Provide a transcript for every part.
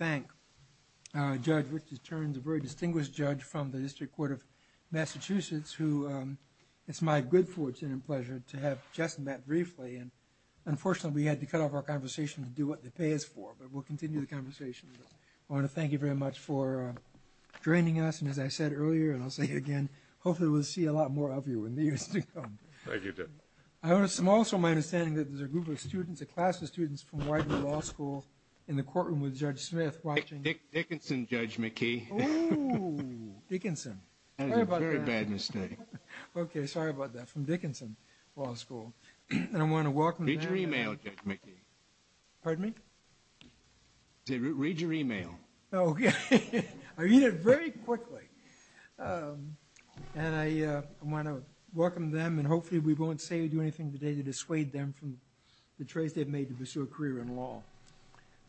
I'd like to thank Judge Richard Turns, a very distinguished judge from the District Court of Massachusetts, who it's my good fortune and pleasure to have just met briefly. Unfortunately, we had to cut off our conversation to do what they pay us for, but we'll continue the conversation. I want to thank you very much for joining us. And as I said earlier, and I'll say again, hopefully we'll see a lot more of you in the years to come. I'm also my understanding that there's a group of students, a class of students from Widener Law School in the courtroom with Judge Smith watching. Dick Dickinson, Judge McKee. Oh, Dickinson. Very bad mistake. Okay. Sorry about that. From Dickinson Law School. And I want to welcome Read your email, Judge McKee. Pardon me? Read your email. Okay. I'll read it very quickly. And I want to welcome them and hopefully we won't say or do anything today to dissuade them from the choice they've made to pursue a career in law.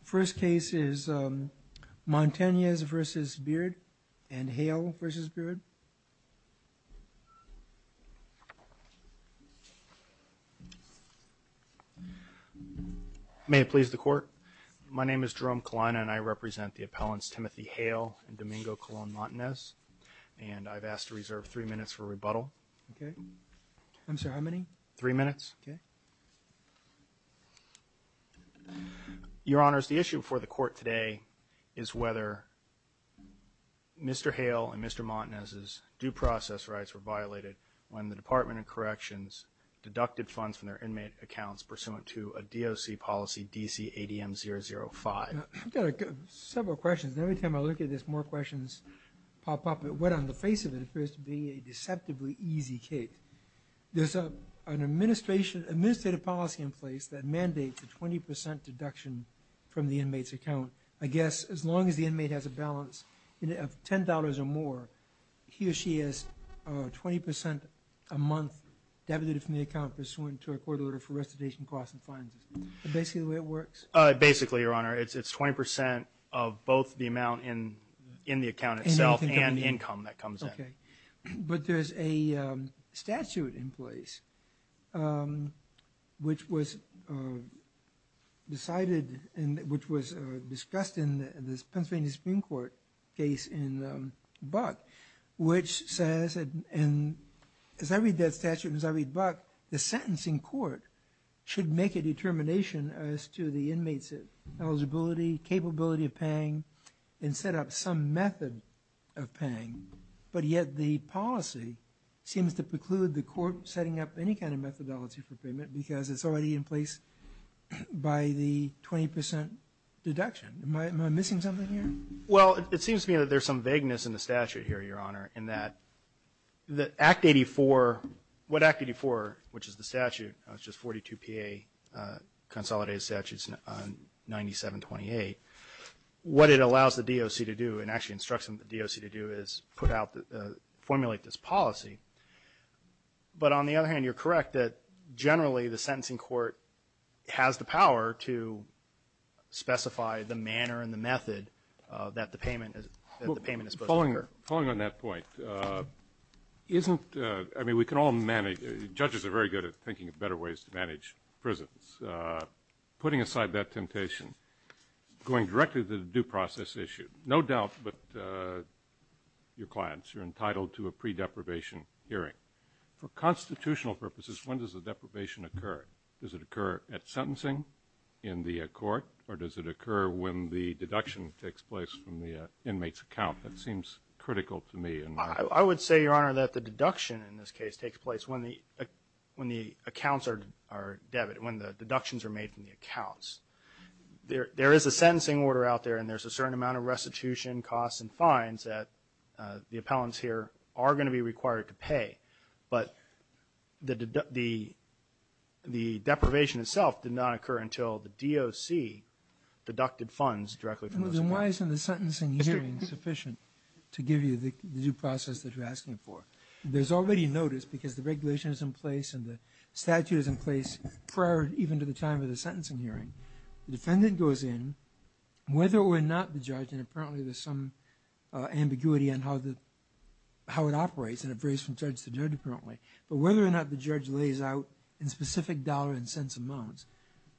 First case is Montanez versus Beard and Hale versus Beard. May it please the court. My name is Jerome Kalina and I represent the appellants Timothy Hale and Domingo Colon Montanez. And I've asked to reserve three minutes for rebuttal. Okay. I'm sorry, how many? Three minutes. Okay. Your Honors, the issue before the court today is whether Mr. Hale and Mr. Montanez's due process rights were violated when the Department of Corrections deducted funds from their inmate accounts pursuant to a DOC policy DC-ADM-005. I've got several questions. Every time I look at this, more questions pop up. What on the face of it appears to be a deceptively easy case? There's an administrative policy in place that mandates a 20% deduction from the inmate's account. I guess as long as the inmate has a balance of $10 or more, he or she has 20% a month debited from the account pursuant to a court order for recidivation costs and fines. Is that basically the way it works? Basically, Your Honor. It's 20% of both the amount in the account itself and income that comes in. Okay. But there's a statute in place which was decided and which was discussed in the Pennsylvania Supreme Court case in Buck which says, and as I read that statute and as I read Buck, the sentencing court should make a determination as to the inmate's eligibility, capability of paying, and set up some method of paying. But yet the policy seems to preclude the court setting up any kind of methodology for payment because it's already in place by the 20% deduction. Am I missing something here? Well, it seems to me that there's some vagueness in the statute here, Your Honor, in that Act 84, what Act 84, which is the statute, which is 42 PA consolidated statutes 9728, what it allows the DOC to do and actually instructs the DOC to do is formulate this policy. But on the other hand, you're correct that generally the sentencing court has the power to specify the manner and the method that the payment is supposed to occur. Following on that point, isn't – I mean, we can all manage – judges are very good at thinking of better ways to manage prisons. Putting aside that temptation, going directly to the due process issue, no doubt that your clients are entitled to a pre-deprivation hearing. For constitutional purposes, when does the deprivation occur? Does it occur at sentencing in the court or does it occur when the deduction takes place from the inmate's account? That seems critical to me. I would say, Your Honor, that the deduction in this case takes place when the accounts are debit, when the deductions are made from the accounts. There is a sentencing order out there and there's a certain amount of restitution costs and fines that the appellants here are going to be required to pay. But the deprivation itself did not occur until the DOC deducted funds directly from those accounts. Why isn't the sentencing hearing sufficient to give you the due process that you're asking for? There's already notice because the regulation is in place and the statute is in place prior even to the time of the sentencing hearing. The defendant goes in, whether or not the judge – and apparently there's some ambiguity on how it operates, and it varies from judge to judge apparently – but whether or not the judge lays out in specific dollar and cents amounts,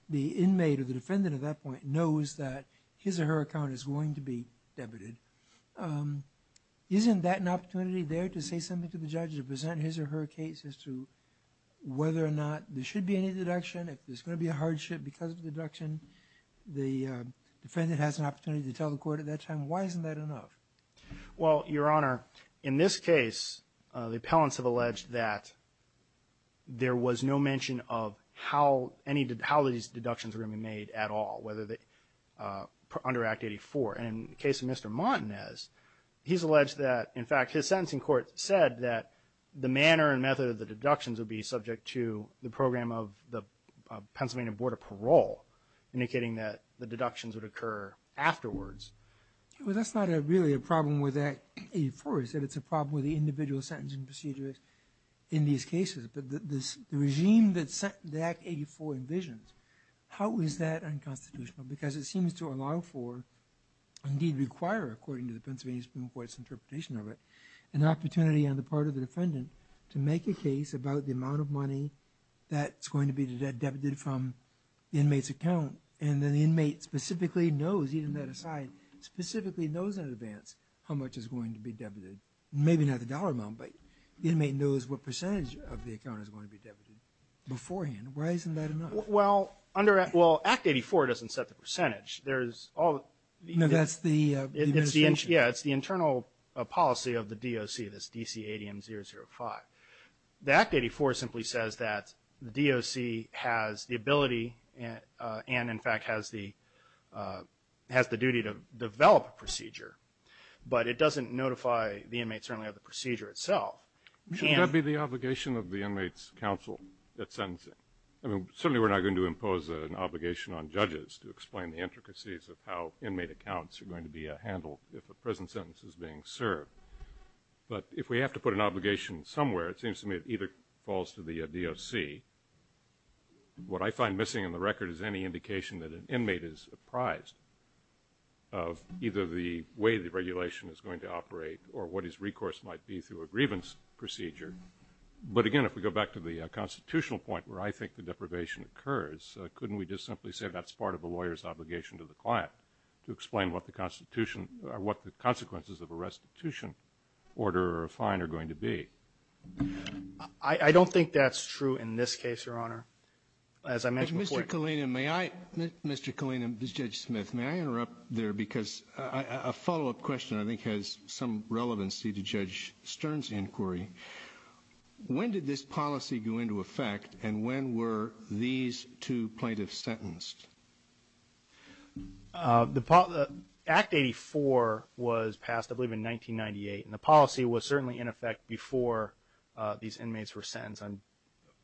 the inmate or the defendant at that point knows that his or her account is going to be debited. Isn't that an opportunity there to say something to the judge to present his or her case as to whether or not there should be any deduction? If there's going to be a hardship because of the deduction, the defendant has an opportunity to tell the court at that time, why isn't that enough? Well, Your Honor, in this case, the appellants have alleged that there was no mention of how these deductions were going to be made at all under Act 84. In the case of Mr. Martinez, he's alleged that, in fact, his sentencing court said that the manner and method of the deductions would be subject to the program of the Pennsylvania Board of Parole, indicating that the deductions would occur afterwards. Well, that's not really a problem with Act 84. It's a problem with the individual sentencing procedures in these cases. But the regime that Act 84 envisions, how is that unconstitutional? Because it seems to allow for, indeed require, according to the Pennsylvania Supreme Court's interpretation of it, an opportunity on the part of the defendant to make a case about the amount of money that's going to be debited from the inmate's account. And then the inmate specifically knows, even that aside, specifically knows in advance how much is going to be debited. Maybe not the dollar amount, but the inmate knows what percentage of the account is going to be debited beforehand. Why isn't that enough? Well, Act 84 doesn't set the percentage. No, that's the extension. Yeah, it's the internal policy of the DOC, this DC-ADM-005. The Act 84 simply says that the DOC has the ability and, in fact, has the duty to the inmate certainly of the procedure itself. Shouldn't that be the obligation of the inmate's counsel at sentencing? Certainly we're not going to impose an obligation on judges to explain the intricacies of how inmate accounts are going to be handled if a prison sentence is being served. But if we have to put an obligation somewhere, it seems to me it either falls to the DOC. What I find missing in the record is any indication that an inmate is apprised of either the way the regulation is going to operate or what his recourse might be through a grievance procedure. But again, if we go back to the constitutional point where I think the deprivation occurs, couldn't we just simply say that's part of a lawyer's obligation to the client to explain what the constitution or what the consequences of a restitution order or a fine are going to be? I don't think that's true in this case, Your Honor. As I mentioned before ---- Mr. Kalina, Judge Smith, may I interrupt there because a follow-up question I think has some relevancy to Judge Stern's inquiry. When did this policy go into effect and when were these two plaintiffs sentenced? Act 84 was passed, I believe, in 1998. And the policy was certainly in effect before these inmates were sentenced.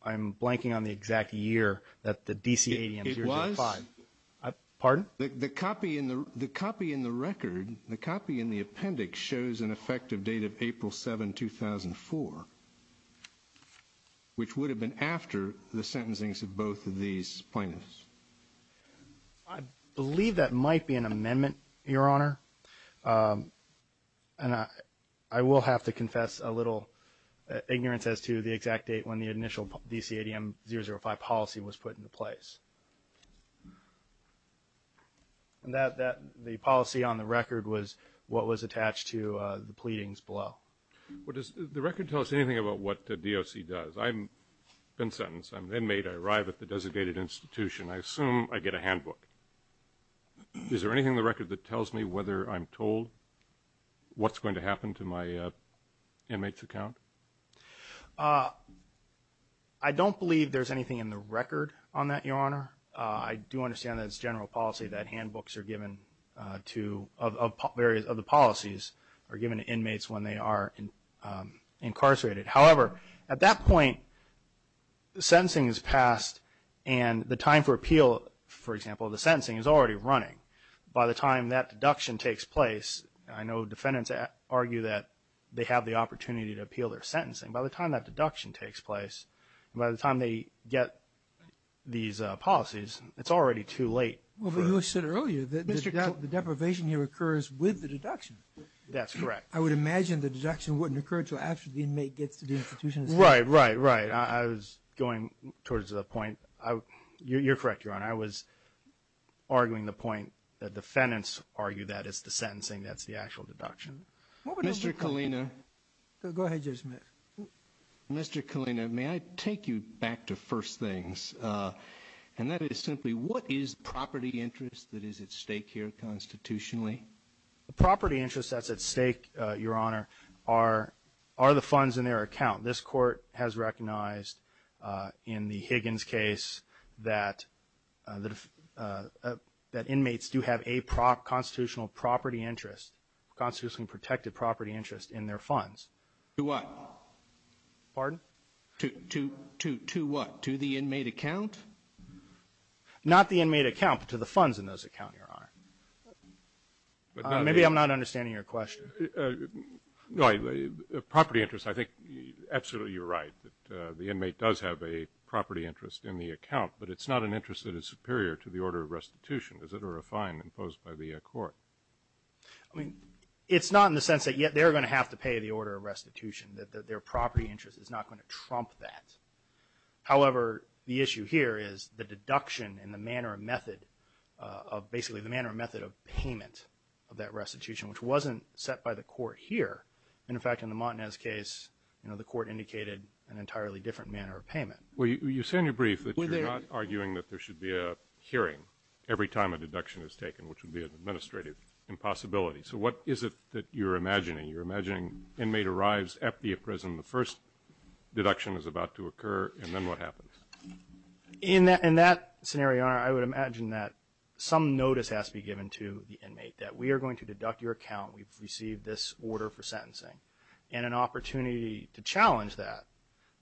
I'm blanking on the exact year that the D.C. ADM-005. It was? Pardon? The copy in the record, the copy in the appendix shows an effective date of April 7, 2004, which would have been after the sentencing of both of these plaintiffs. I believe that might be an amendment, Your Honor. And I will have to confess a little ignorance as to the exact date when the initial D.C. ADM-005 policy was put into place. The policy on the record was what was attached to the pleadings below. Well, does the record tell us anything about what the DOC does? I've been sentenced. I'm an inmate. I arrive at the designated institution. I assume I get a handbook. Is there anything in the record that tells me whether I'm told what's going to happen to my I don't believe there's anything in the record on that, Your Honor. I do understand that it's general policy that handbooks are given to, of the policies, are given to inmates when they are incarcerated. However, at that point, the sentencing is passed and the time for appeal, for example, the sentencing is already running. By the time that deduction takes place, I know defendants argue that they have the opportunity to appeal their sentencing. By the time that deduction takes place and by the time they get these policies, it's already too late. But you said earlier that the deprivation here occurs with the deduction. That's correct. I would imagine the deduction wouldn't occur until after the inmate gets to the institution. Right, right, right. I was going towards the point. You're correct, Your Honor. I was arguing the point that defendants argue that it's the sentencing that's the actual deduction. Mr. Kalina. Go ahead, Judge Smith. Mr. Kalina, may I take you back to first things, and that is simply what is property interest that is at stake here constitutionally? The property interest that's at stake, Your Honor, are the funds in their account. This Court has recognized in the Higgins case that inmates do have a constitutional property interest, constitutionally protected property interest in their funds. To what? Pardon? To what? To the inmate account? Not the inmate account, but to the funds in those accounts, Your Honor. Maybe I'm not understanding your question. No, property interest, I think absolutely you're right. The inmate does have a property interest in the account, but it's not an interest that is superior to the order of restitution. Is it a refine imposed by the court? I mean, it's not in the sense that they're going to have to pay the order of restitution, that their property interest is not going to trump that. However, the issue here is the deduction and the manner and method of payment of that restitution, which wasn't set by the court here. In fact, in the Montanez case, the court indicated an entirely different manner of payment. Well, you say in your brief that you're not arguing that there should be a hearing every time a deduction is taken, which would be an administrative impossibility. So what is it that you're imagining? You're imagining inmate arrives at the prison, the first deduction is about to occur, and then what happens? In that scenario, Your Honor, I would imagine that some notice has to be given to the inmate, that we are going to deduct your account, we've received this order for sentencing, and an opportunity to challenge that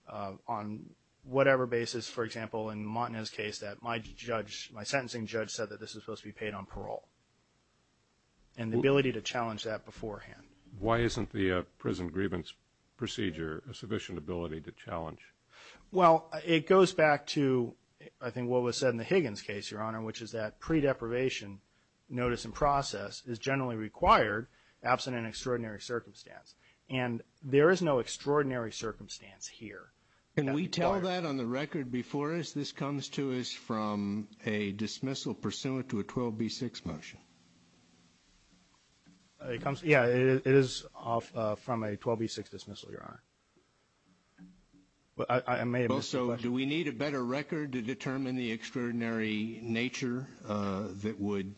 on whatever basis. It is, for example, in the Montanez case that my judge, my sentencing judge said that this was supposed to be paid on parole, and the ability to challenge that beforehand. Why isn't the prison grievance procedure a sufficient ability to challenge? Well, it goes back to, I think, what was said in the Higgins case, Your Honor, which is that pre-deprivation notice in process is generally required absent an extraordinary circumstance. And there is no extraordinary circumstance here. Can we tell that on the record before us? This comes to us from a dismissal pursuant to a 12B6 motion. Yeah, it is from a 12B6 dismissal, Your Honor. Also, do we need a better record to determine the extraordinary nature that would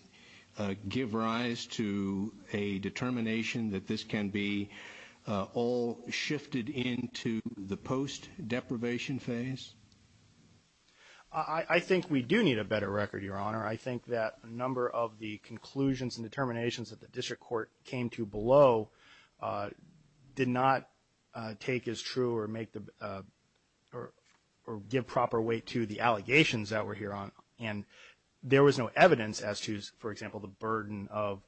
give rise to a determination that this can be all shifted into the post-deprivation phase? I think we do need a better record, Your Honor. I think that a number of the conclusions and determinations that the district court came to below did not take as true or give proper weight to the allegations that we're hearing. And there was no evidence as to, for example, the burden of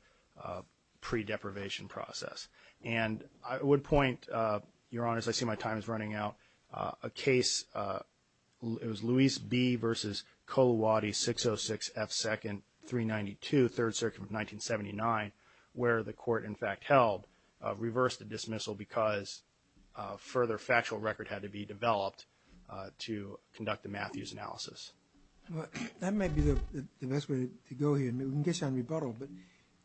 pre-deprivation process. And I would point, Your Honor, as I see my time is running out, a case, it was Luis B versus Colawade 606F2-392, 3rd Circuit of 1979, where the court, in fact, held, reversed the dismissal because a further factual record had to be developed to conduct a Matthews analysis. That might be the best way to go here. We can get you on rebuttal. But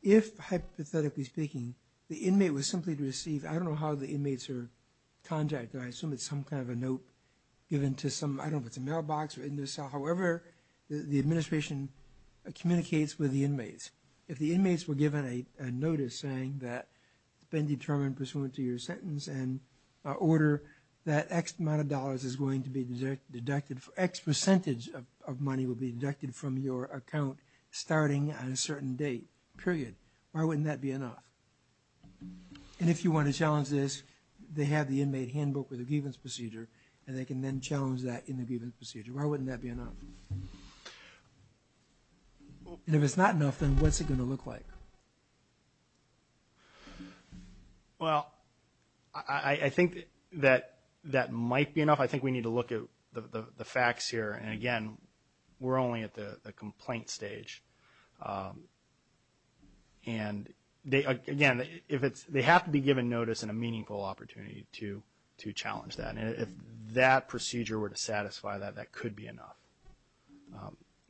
if, hypothetically speaking, the inmate was simply to receive, I don't know how the inmates are contracted. I assume it's some kind of a note given to some, I don't know if it's a mailbox or in their cell. However, the administration communicates with the inmates. If the inmates were given a notice saying that it's been determined pursuant to your sentence and order that X amount of dollars is going to be deducted, X percentage of money will be deducted from your account starting on a certain date, period, why wouldn't that be enough? And if you want to challenge this, they have the inmate handbook with the grievance procedure, and they can then challenge that in the grievance procedure. Why wouldn't that be enough? And if it's not enough, then what's it going to look like? Well, I think that that might be enough. I think we need to look at the facts here. And, again, we're only at the complaint stage. And, again, they have to be given notice and a meaningful opportunity to challenge that. And if that procedure were to satisfy that, that could be enough.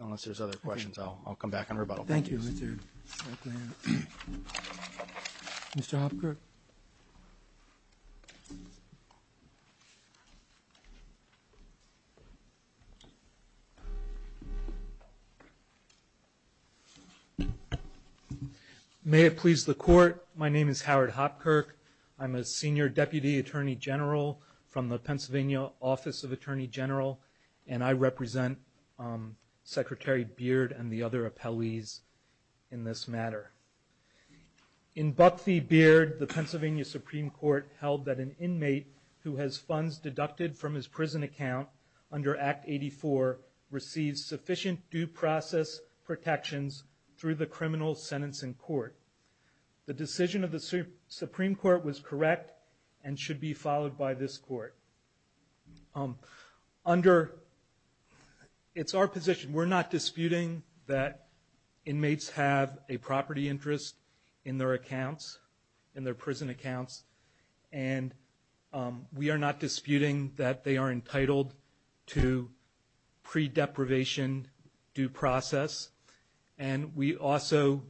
Unless there's other questions, I'll come back on rebuttal. Thank you. Thank you, Richard. Mr. Hopkirk. May it please the Court, my name is Howard Hopkirk. I'm a senior deputy attorney general from the Pennsylvania Office of Attorney General, and I represent Secretary Beard and the other appellees in this matter. In Buck v. Beard, the Pennsylvania Supreme Court held that an inmate who has funds deducted from his prison account under Act 84 receives sufficient due process protections through the criminal sentencing court. The decision of the Supreme Court was correct and should be followed by this Court. It's our position, we're not disputing that inmates have a property interest in their accounts, in their prison accounts, and we are not disputing that they are entitled to pre-deprivation due process. And we also,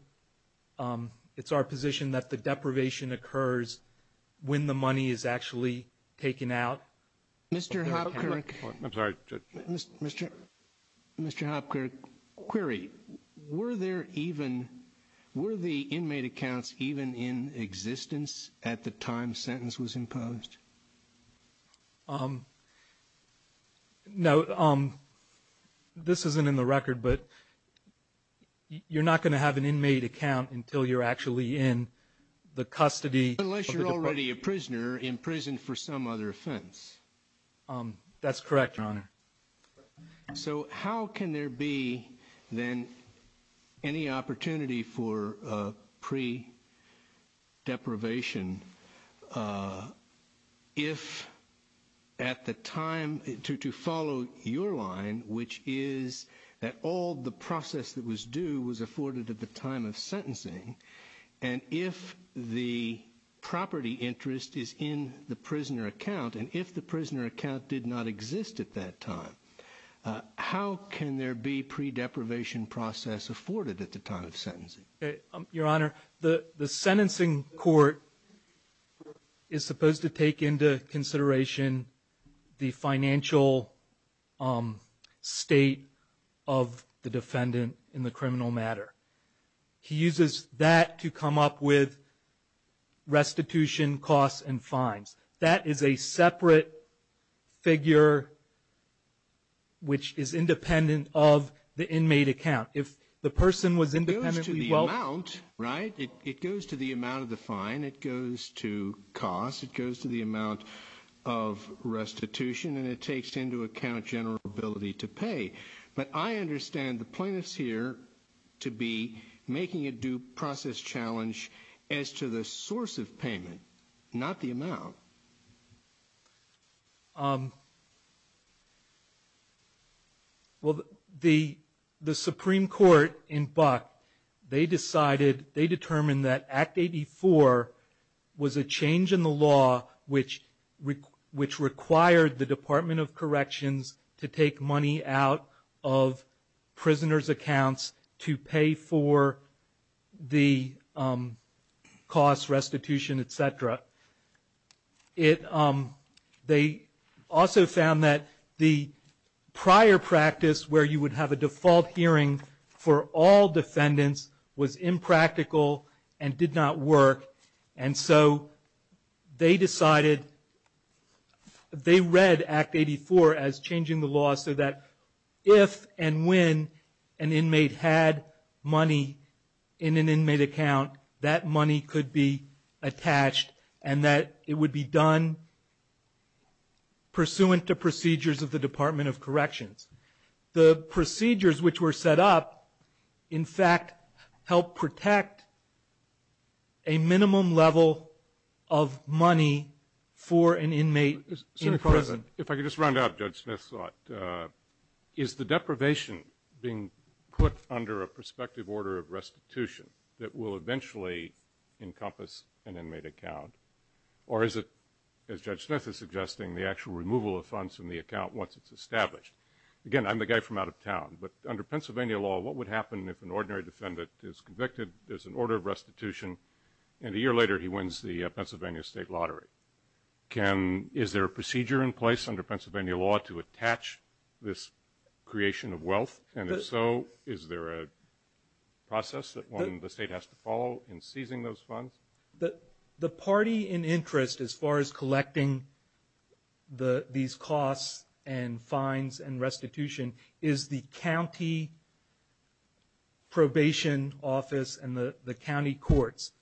it's our position that the deprivation occurs when the money is actually taken out. Mr. Hopkirk. I'm sorry. Mr. Hopkirk, query. Were there even, were the inmate accounts even in existence at the time sentence was imposed? No, this isn't in the record, but you're not going to have an inmate account until you're actually in the custody. Unless you're already a prisoner in prison for some other offense. That's correct, Your Honor. So how can there be then any opportunity for pre-deprivation if at the time, to follow your line, which is that all the process that was due was afforded at the time of sentencing, and if the property interest is in the prisoner account, and if the prisoner account did not exist at that time, how can there be pre-deprivation process afforded at the time of sentencing? Your Honor, the sentencing court is supposed to take into consideration the financial state of the defendant in the criminal matter. He uses that to come up with restitution costs and fines. That is a separate figure which is independent of the inmate account. If the person was independently well- It goes to the amount, right? It goes to the amount of the fine, it goes to cost, it goes to the amount of restitution, and it takes into account general ability to pay. But I understand the plaintiffs here to be making a due process challenge as to the source of payment, not the amount. Well, the Supreme Court in Buck, they decided, they determined that Act 84 was a change in the law which required the Department of Corrections to take money out of prisoners' accounts to pay for the costs, restitution, et cetera. They also found that the prior practice where you would have a default hearing for all defendants was impractical and did not work. And so they decided, they read Act 84 as changing the law so that if and when an inmate had money in an inmate account, that money could be attached and that it would be done pursuant to procedures of the Department of Corrections. The procedures which were set up, in fact, helped protect a minimum level of money for an inmate in prison. Mr. President, if I could just round out Judge Smith's thought. Is the deprivation being put under a prospective order of restitution that will eventually encompass an inmate account, or is it, as Judge Smith is suggesting, the actual removal of funds from the account once it's established? Again, I'm the guy from out of town, but under Pennsylvania law, what would happen if an ordinary defendant is convicted, there's an order of restitution, and a year later he wins the Pennsylvania state lottery? Is there a procedure in place under Pennsylvania law to attach this creation of wealth? And if so, is there a process that the state has to follow in seizing those funds? The party in interest as far as collecting these costs and fines and restitution is the county probation office and the county courts.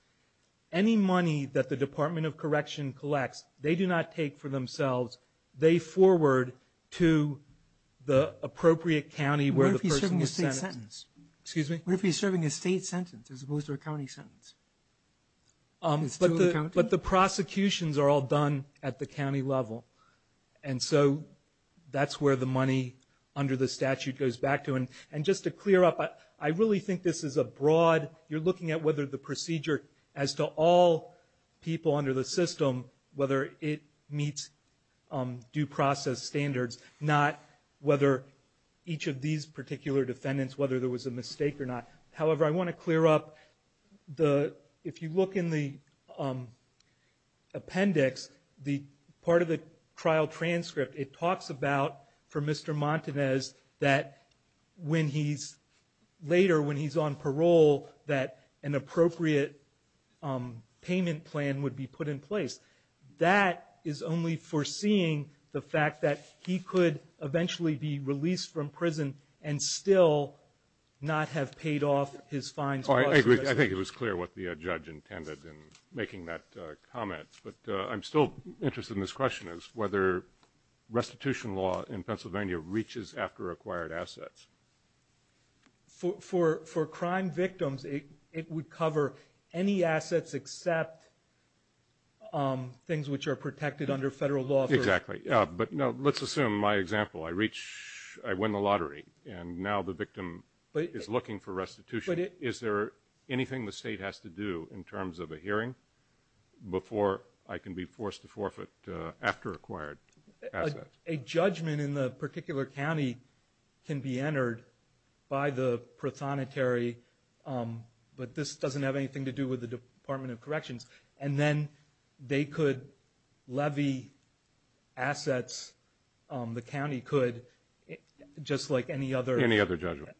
Any money that the Department of Correction collects, they do not take for themselves. They forward to the appropriate county where the person is sentenced. Excuse me? But the prosecutions are all done at the county level, and so that's where the money under the statute goes back to. And just to clear up, I really think this is a broad, you're looking at whether the procedure as to all people under the system, whether it meets due process standards, not whether each of these particular defendants, whether there was a mistake or not. However, I want to clear up, if you look in the appendix, part of the trial transcript, it talks about, for Mr. Montanez, that when he's later, when he's on parole, that an appropriate payment plan would be put in place. That is only foreseeing the fact that he could eventually be released from prison and still not have paid off his fines. I agree. I think it was clear what the judge intended in making that comment. But I'm still interested in this question, whether restitution law in Pennsylvania reaches after acquired assets. For crime victims, it would cover any assets except things which are protected under federal law. Exactly. But let's assume, my example, I reach, I win the lottery, and now the victim is looking for restitution. Is there anything the state has to do in terms of a hearing before I can be forced to forfeit after acquired assets? A judgment in the particular county can be entered by the prothonotary, but this doesn't have anything to do with the Department of Corrections. And then they could levy assets, the county could, just like any other judgment.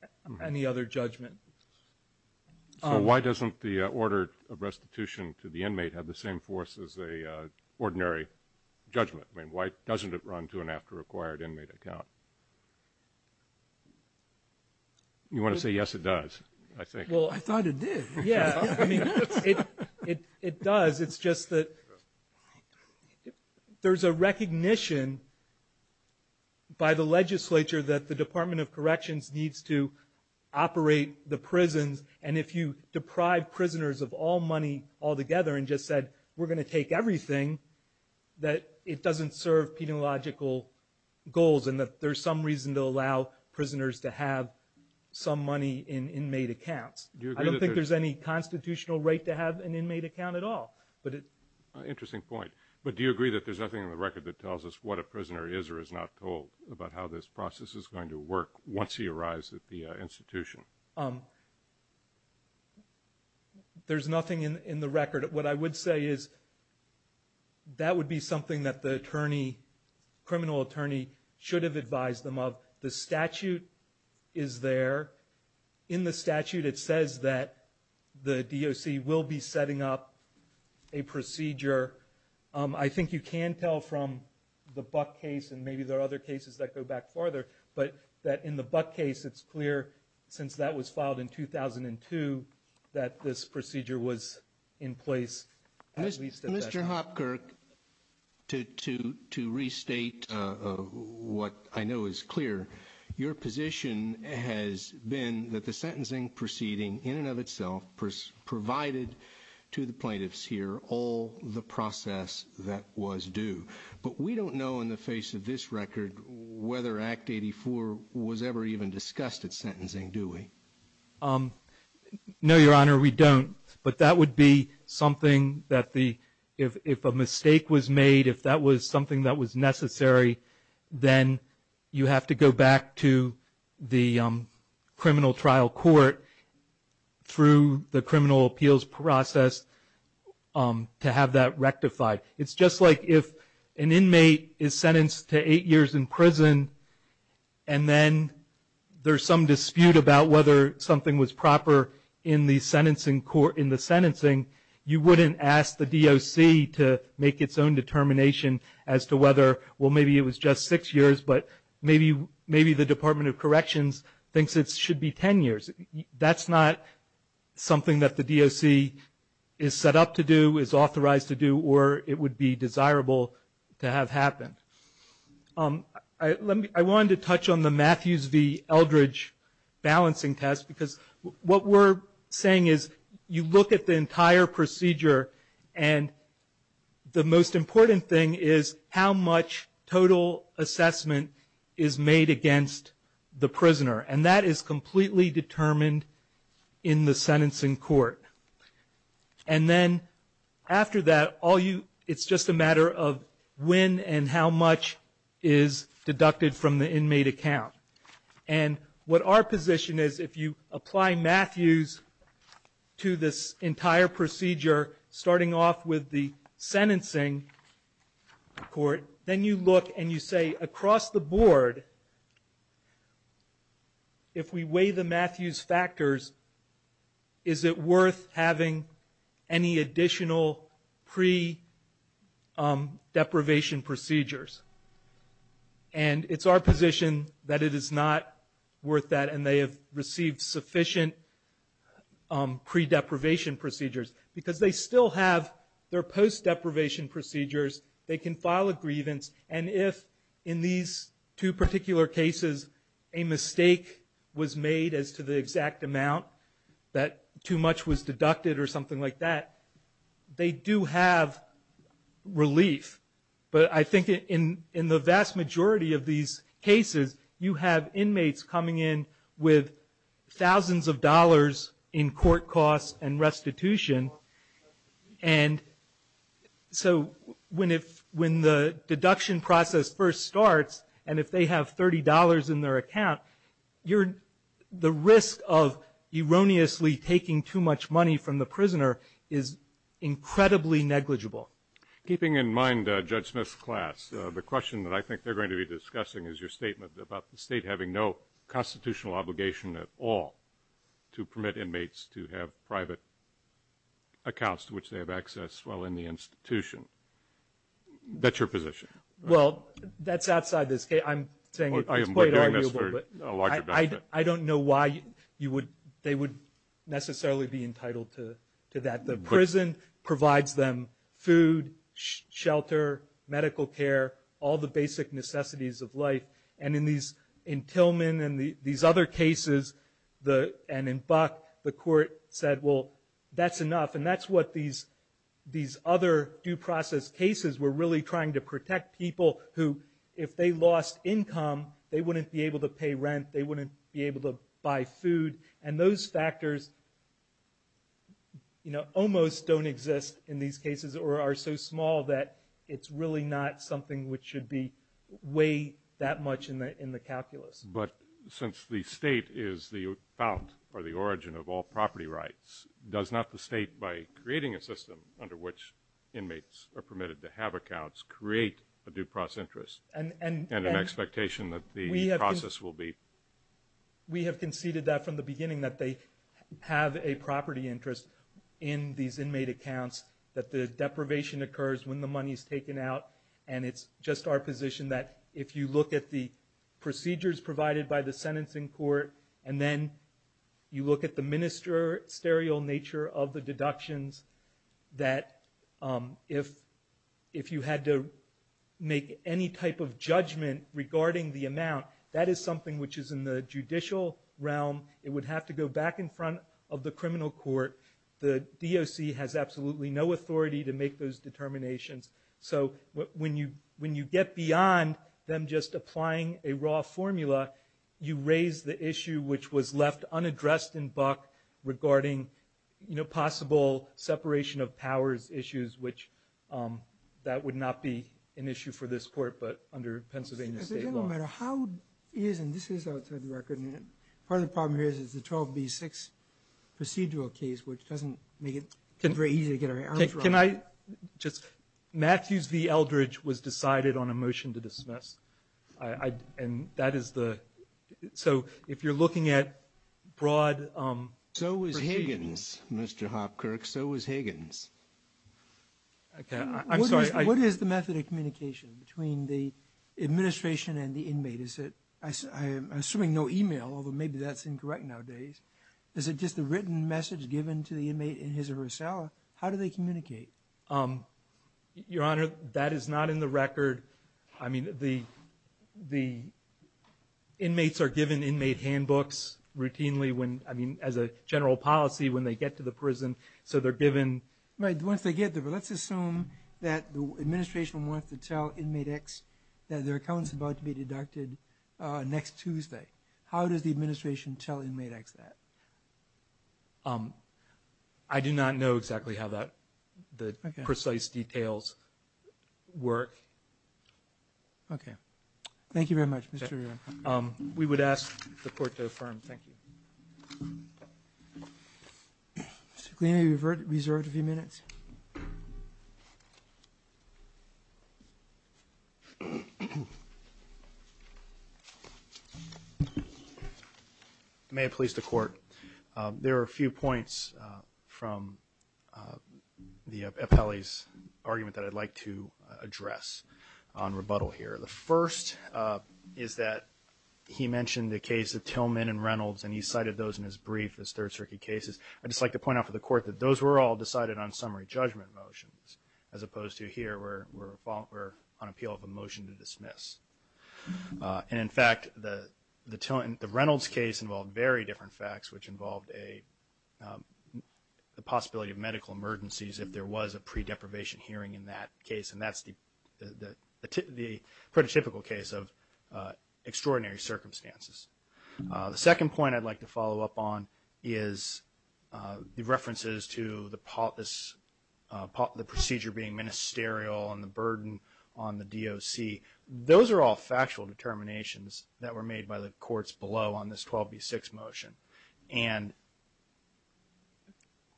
So why doesn't the order of restitution to the inmate have the same force as an ordinary judgment? Why doesn't it run to an after acquired inmate account? You want to say, yes, it does, I think. Well, I thought it did. Yeah, I mean, it does. It's just that there's a recognition by the legislature that the Department of Corrections needs to operate the prisons. And if you deprive prisoners of all money altogether and just said, we're going to take everything, that it doesn't serve peniological goals and that there's some reason to allow prisoners to have some money in inmate accounts. I don't think there's any constitutional right to have an inmate account at all. Interesting point. But do you agree that there's nothing in the record that tells us what a prisoner is or is not told about how this process is going to work once he arrives at the institution? There's nothing in the record. What I would say is that would be something that the criminal attorney should have advised them of. The statute is there. In the statute it says that the DOC will be setting up a procedure. I think you can tell from the Buck case, and maybe there are other cases that go back farther, but that in the Buck case it's clear since that was filed in 2002 that this procedure was in place. Mr. Hopkirk, to restate what I know is clear, your position has been that the sentencing proceeding in and of itself provided to the plaintiffs here all the process that was due. But we don't know in the face of this record whether Act 84 was ever even discussed at sentencing, do we? No, Your Honor, we don't. But that would be something that if a mistake was made, if that was something that was necessary, then you have to go back to the criminal trial court through the criminal appeals process to have that rectified. It's just like if an inmate is sentenced to eight years in prison and then there's some dispute about whether something was proper in the sentencing, you wouldn't ask the DOC to make its own determination as to whether, well, maybe it was just six years, but maybe the Department of Corrections thinks it should be ten years. That's not something that the DOC is set up to do, is authorized to do, or it would be desirable to have happen. I wanted to touch on the Matthews v. Eldridge balancing test, because what we're saying is you look at the entire procedure, and the most important thing is how much total assessment is made against the prisoner. And that is completely determined in the sentencing court. And then after that, it's just a matter of when and how much is deducted from the inmate account. And what our position is, if you apply Matthews to this entire procedure, starting off with the sentencing court, then you look and you say across the board, if we weigh the Matthews factors, is it worth having any additional pre-deprivation procedures? And it's our position that it is not worth that, and they have received sufficient pre-deprivation procedures, because they still have their post-deprivation procedures, they can file a grievance, and if in these two particular cases a mistake was made as to the exact amount that too much was deducted or something like that, they do have relief. But I think in the vast majority of these cases, you have inmates coming in with thousands of dollars in court costs and restitution, and so when the deduction process first starts, and if they have $30 in their account, the risk of erroneously taking too much money from the prisoner is incredibly negligible. Keeping in mind Judge Smith's class, the question that I think they're going to be discussing is your statement about the State having no constitutional obligation at all to permit inmates to have private accounts to which they have access while in the institution. That's your position. Well, that's outside this case. I'm saying it's quite arguable, but I don't know why they would necessarily be entitled to that. The prison provides them food, shelter, medical care, all the basic necessities of life, and in Tillman and these other cases, and in Buck, the court said, well, that's enough, and that's what these other due process cases were really trying to protect people who if they lost income, they wouldn't be able to pay rent, they wouldn't be able to buy food, and those factors almost don't exist in these cases or are so small that it's really not something which should weigh that much in the calculus. But since the State is the fount or the origin of all property rights, does not the State, by creating a system under which inmates are permitted to have accounts, create a due process interest and an expectation that the process will be? We have conceded that from the beginning, that they have a property interest in these inmate accounts, that the deprivation occurs when the money is taken out, and it's just our position that if you look at the procedures provided by the sentencing court, and then you look at the ministerial nature of the deductions, that if you had to make any type of judgment regarding the amount, that is something which is in the judicial realm, it would have to go back in front of the criminal court. The DOC has absolutely no authority to make those determinations. So when you get beyond them just applying a raw formula, you raise the issue which was left unaddressed in Buck regarding possible separation of powers issues, which that would not be an issue for this court but under Pennsylvania State law. No matter how it is, and this is outside the record, part of the problem here is the 12B6 procedural case, which doesn't make it very easy to get our arms around it. Can I just, Matthews v. Eldridge was decided on a motion to dismiss, and that is the, so if you're looking at broad proceedings. So was Higgins, Mr. Hopkirk, so was Higgins. I'm sorry. What is the method of communication between the administration and the inmate? I'm assuming no email, although maybe that's incorrect nowadays. Is it just a written message given to the inmate in his or her cell? How do they communicate? Your Honor, that is not in the record. I mean the inmates are given inmate handbooks routinely when, I mean as a general policy when they get to the prison. So they're given. Right, once they get there. But let's assume that the administration wants to tell inmate X that their account is about to be deducted next Tuesday. How does the administration tell inmate X that? I do not know exactly how that, the precise details work. Okay. Thank you very much, Mr. Reuben. We would ask the court to affirm. Thank you. Mr. Kleeney, you're reserved a few minutes. May it please the court. There are a few points from the appellee's argument that I'd like to address on rebuttal here. The first is that he mentioned the case of Tillman and Reynolds and he cited those in his brief as Third Circuit cases. I'd just like to point out for the court that those were all decided on summary judgment motions, as opposed to here where we're on appeal of a motion to dismiss. And, in fact, the Reynolds case involved very different facts, which involved the possibility of medical emergencies if there was a pre-deprivation hearing in that case. And that's the pretty typical case of extraordinary circumstances. The second point I'd like to follow up on is the references to the procedure being ministerial and the burden on the DOC. Those are all factual determinations that were made by the courts below on this 12B6 motion. And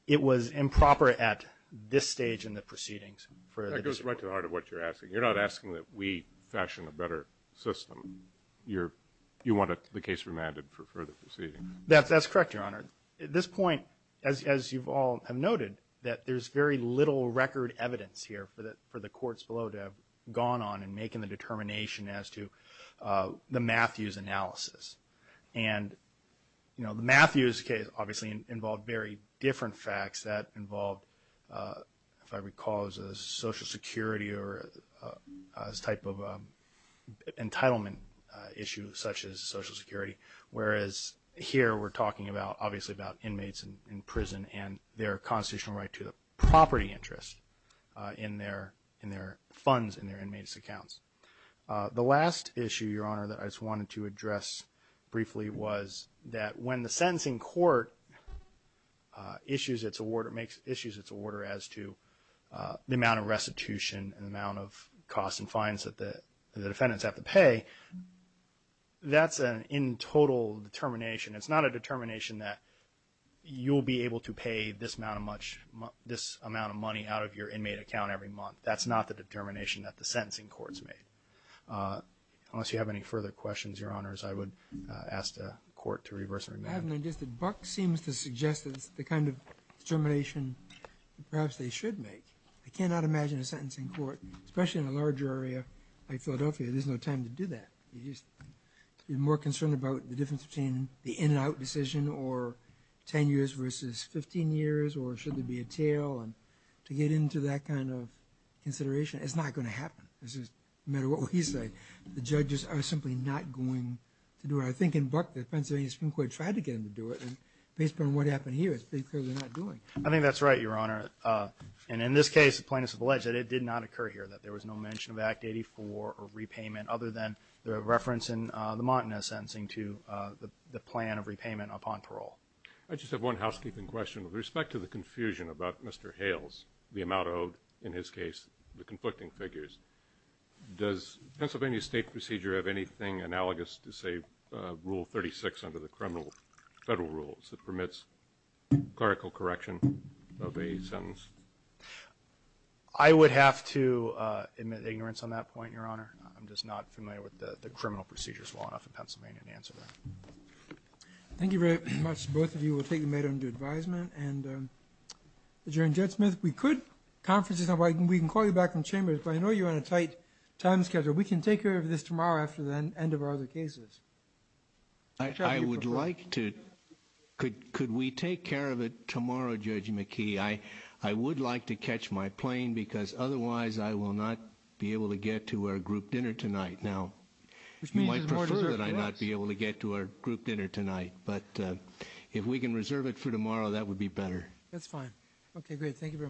it was improper at this stage in the proceedings. That goes right to the heart of what you're asking. You're not asking that we fashion a better system. You want the case remanded for further proceedings. That's correct, Your Honor. At this point, as you all have noted, that there's very little record evidence here for the courts below to have gone on in making the determination as to the Matthews analysis. And, you know, the Matthews case obviously involved very different facts. That involved, if I recall, Social Security or this type of entitlement issue such as Social Security, whereas here we're talking about, obviously, about inmates in prison and their constitutional right to the property interest in their funds in their inmates' accounts. The last issue, Your Honor, that I just wanted to address briefly was that when the sentencing court issues its order as to the amount of restitution and the amount of costs and fines that the defendants have to pay, that's an in total determination. It's not a determination that you'll be able to pay this amount of money out of your inmate account every month. That's not the determination that the sentencing court's made. Unless you have any further questions, Your Honors, I would ask the Court to reverse their amendment. I haven't understood. Buck seems to suggest that it's the kind of determination perhaps they should make. I cannot imagine a sentencing court, especially in a larger area like Philadelphia, there's no time to do that. You're more concerned about the difference between the in and out decision or 10 years versus 15 years or should there be a tail. No matter what we say, the judges are simply not going to do it. I think in Buck, the Pennsylvania Supreme Court tried to get them to do it. Based on what happened here, it's pretty clear they're not doing it. I think that's right, Your Honor. In this case, the plaintiffs have alleged that it did not occur here, that there was no mention of Act 84 or repayment other than the reference in the Montana sentencing to the plan of repayment upon parole. I just have one housekeeping question. With respect to the confusion about Mr. Hales, the amount owed, in his case, the conflicting figures, does Pennsylvania state procedure have anything analogous to, say, Rule 36 under the federal rules that permits clerical correction of a sentence? I would have to admit ignorance on that point, Your Honor. I'm just not familiar with the criminal procedures well enough in Pennsylvania to answer that. Thank you very much. Both of you will take the matter into advisement. Adjourned. Judge Smith, we could call you back in the chambers, but I know you're on a tight time schedule. We can take care of this tomorrow after the end of our other cases. I would like to. Could we take care of it tomorrow, Judge McKee? I would like to catch my plane because otherwise I will not be able to get to our group dinner tonight. Now, you might prefer that I not be able to get to our group dinner tonight, but if we can reserve it for tomorrow, that would be better. That's fine. Okay, great. Thank you very much.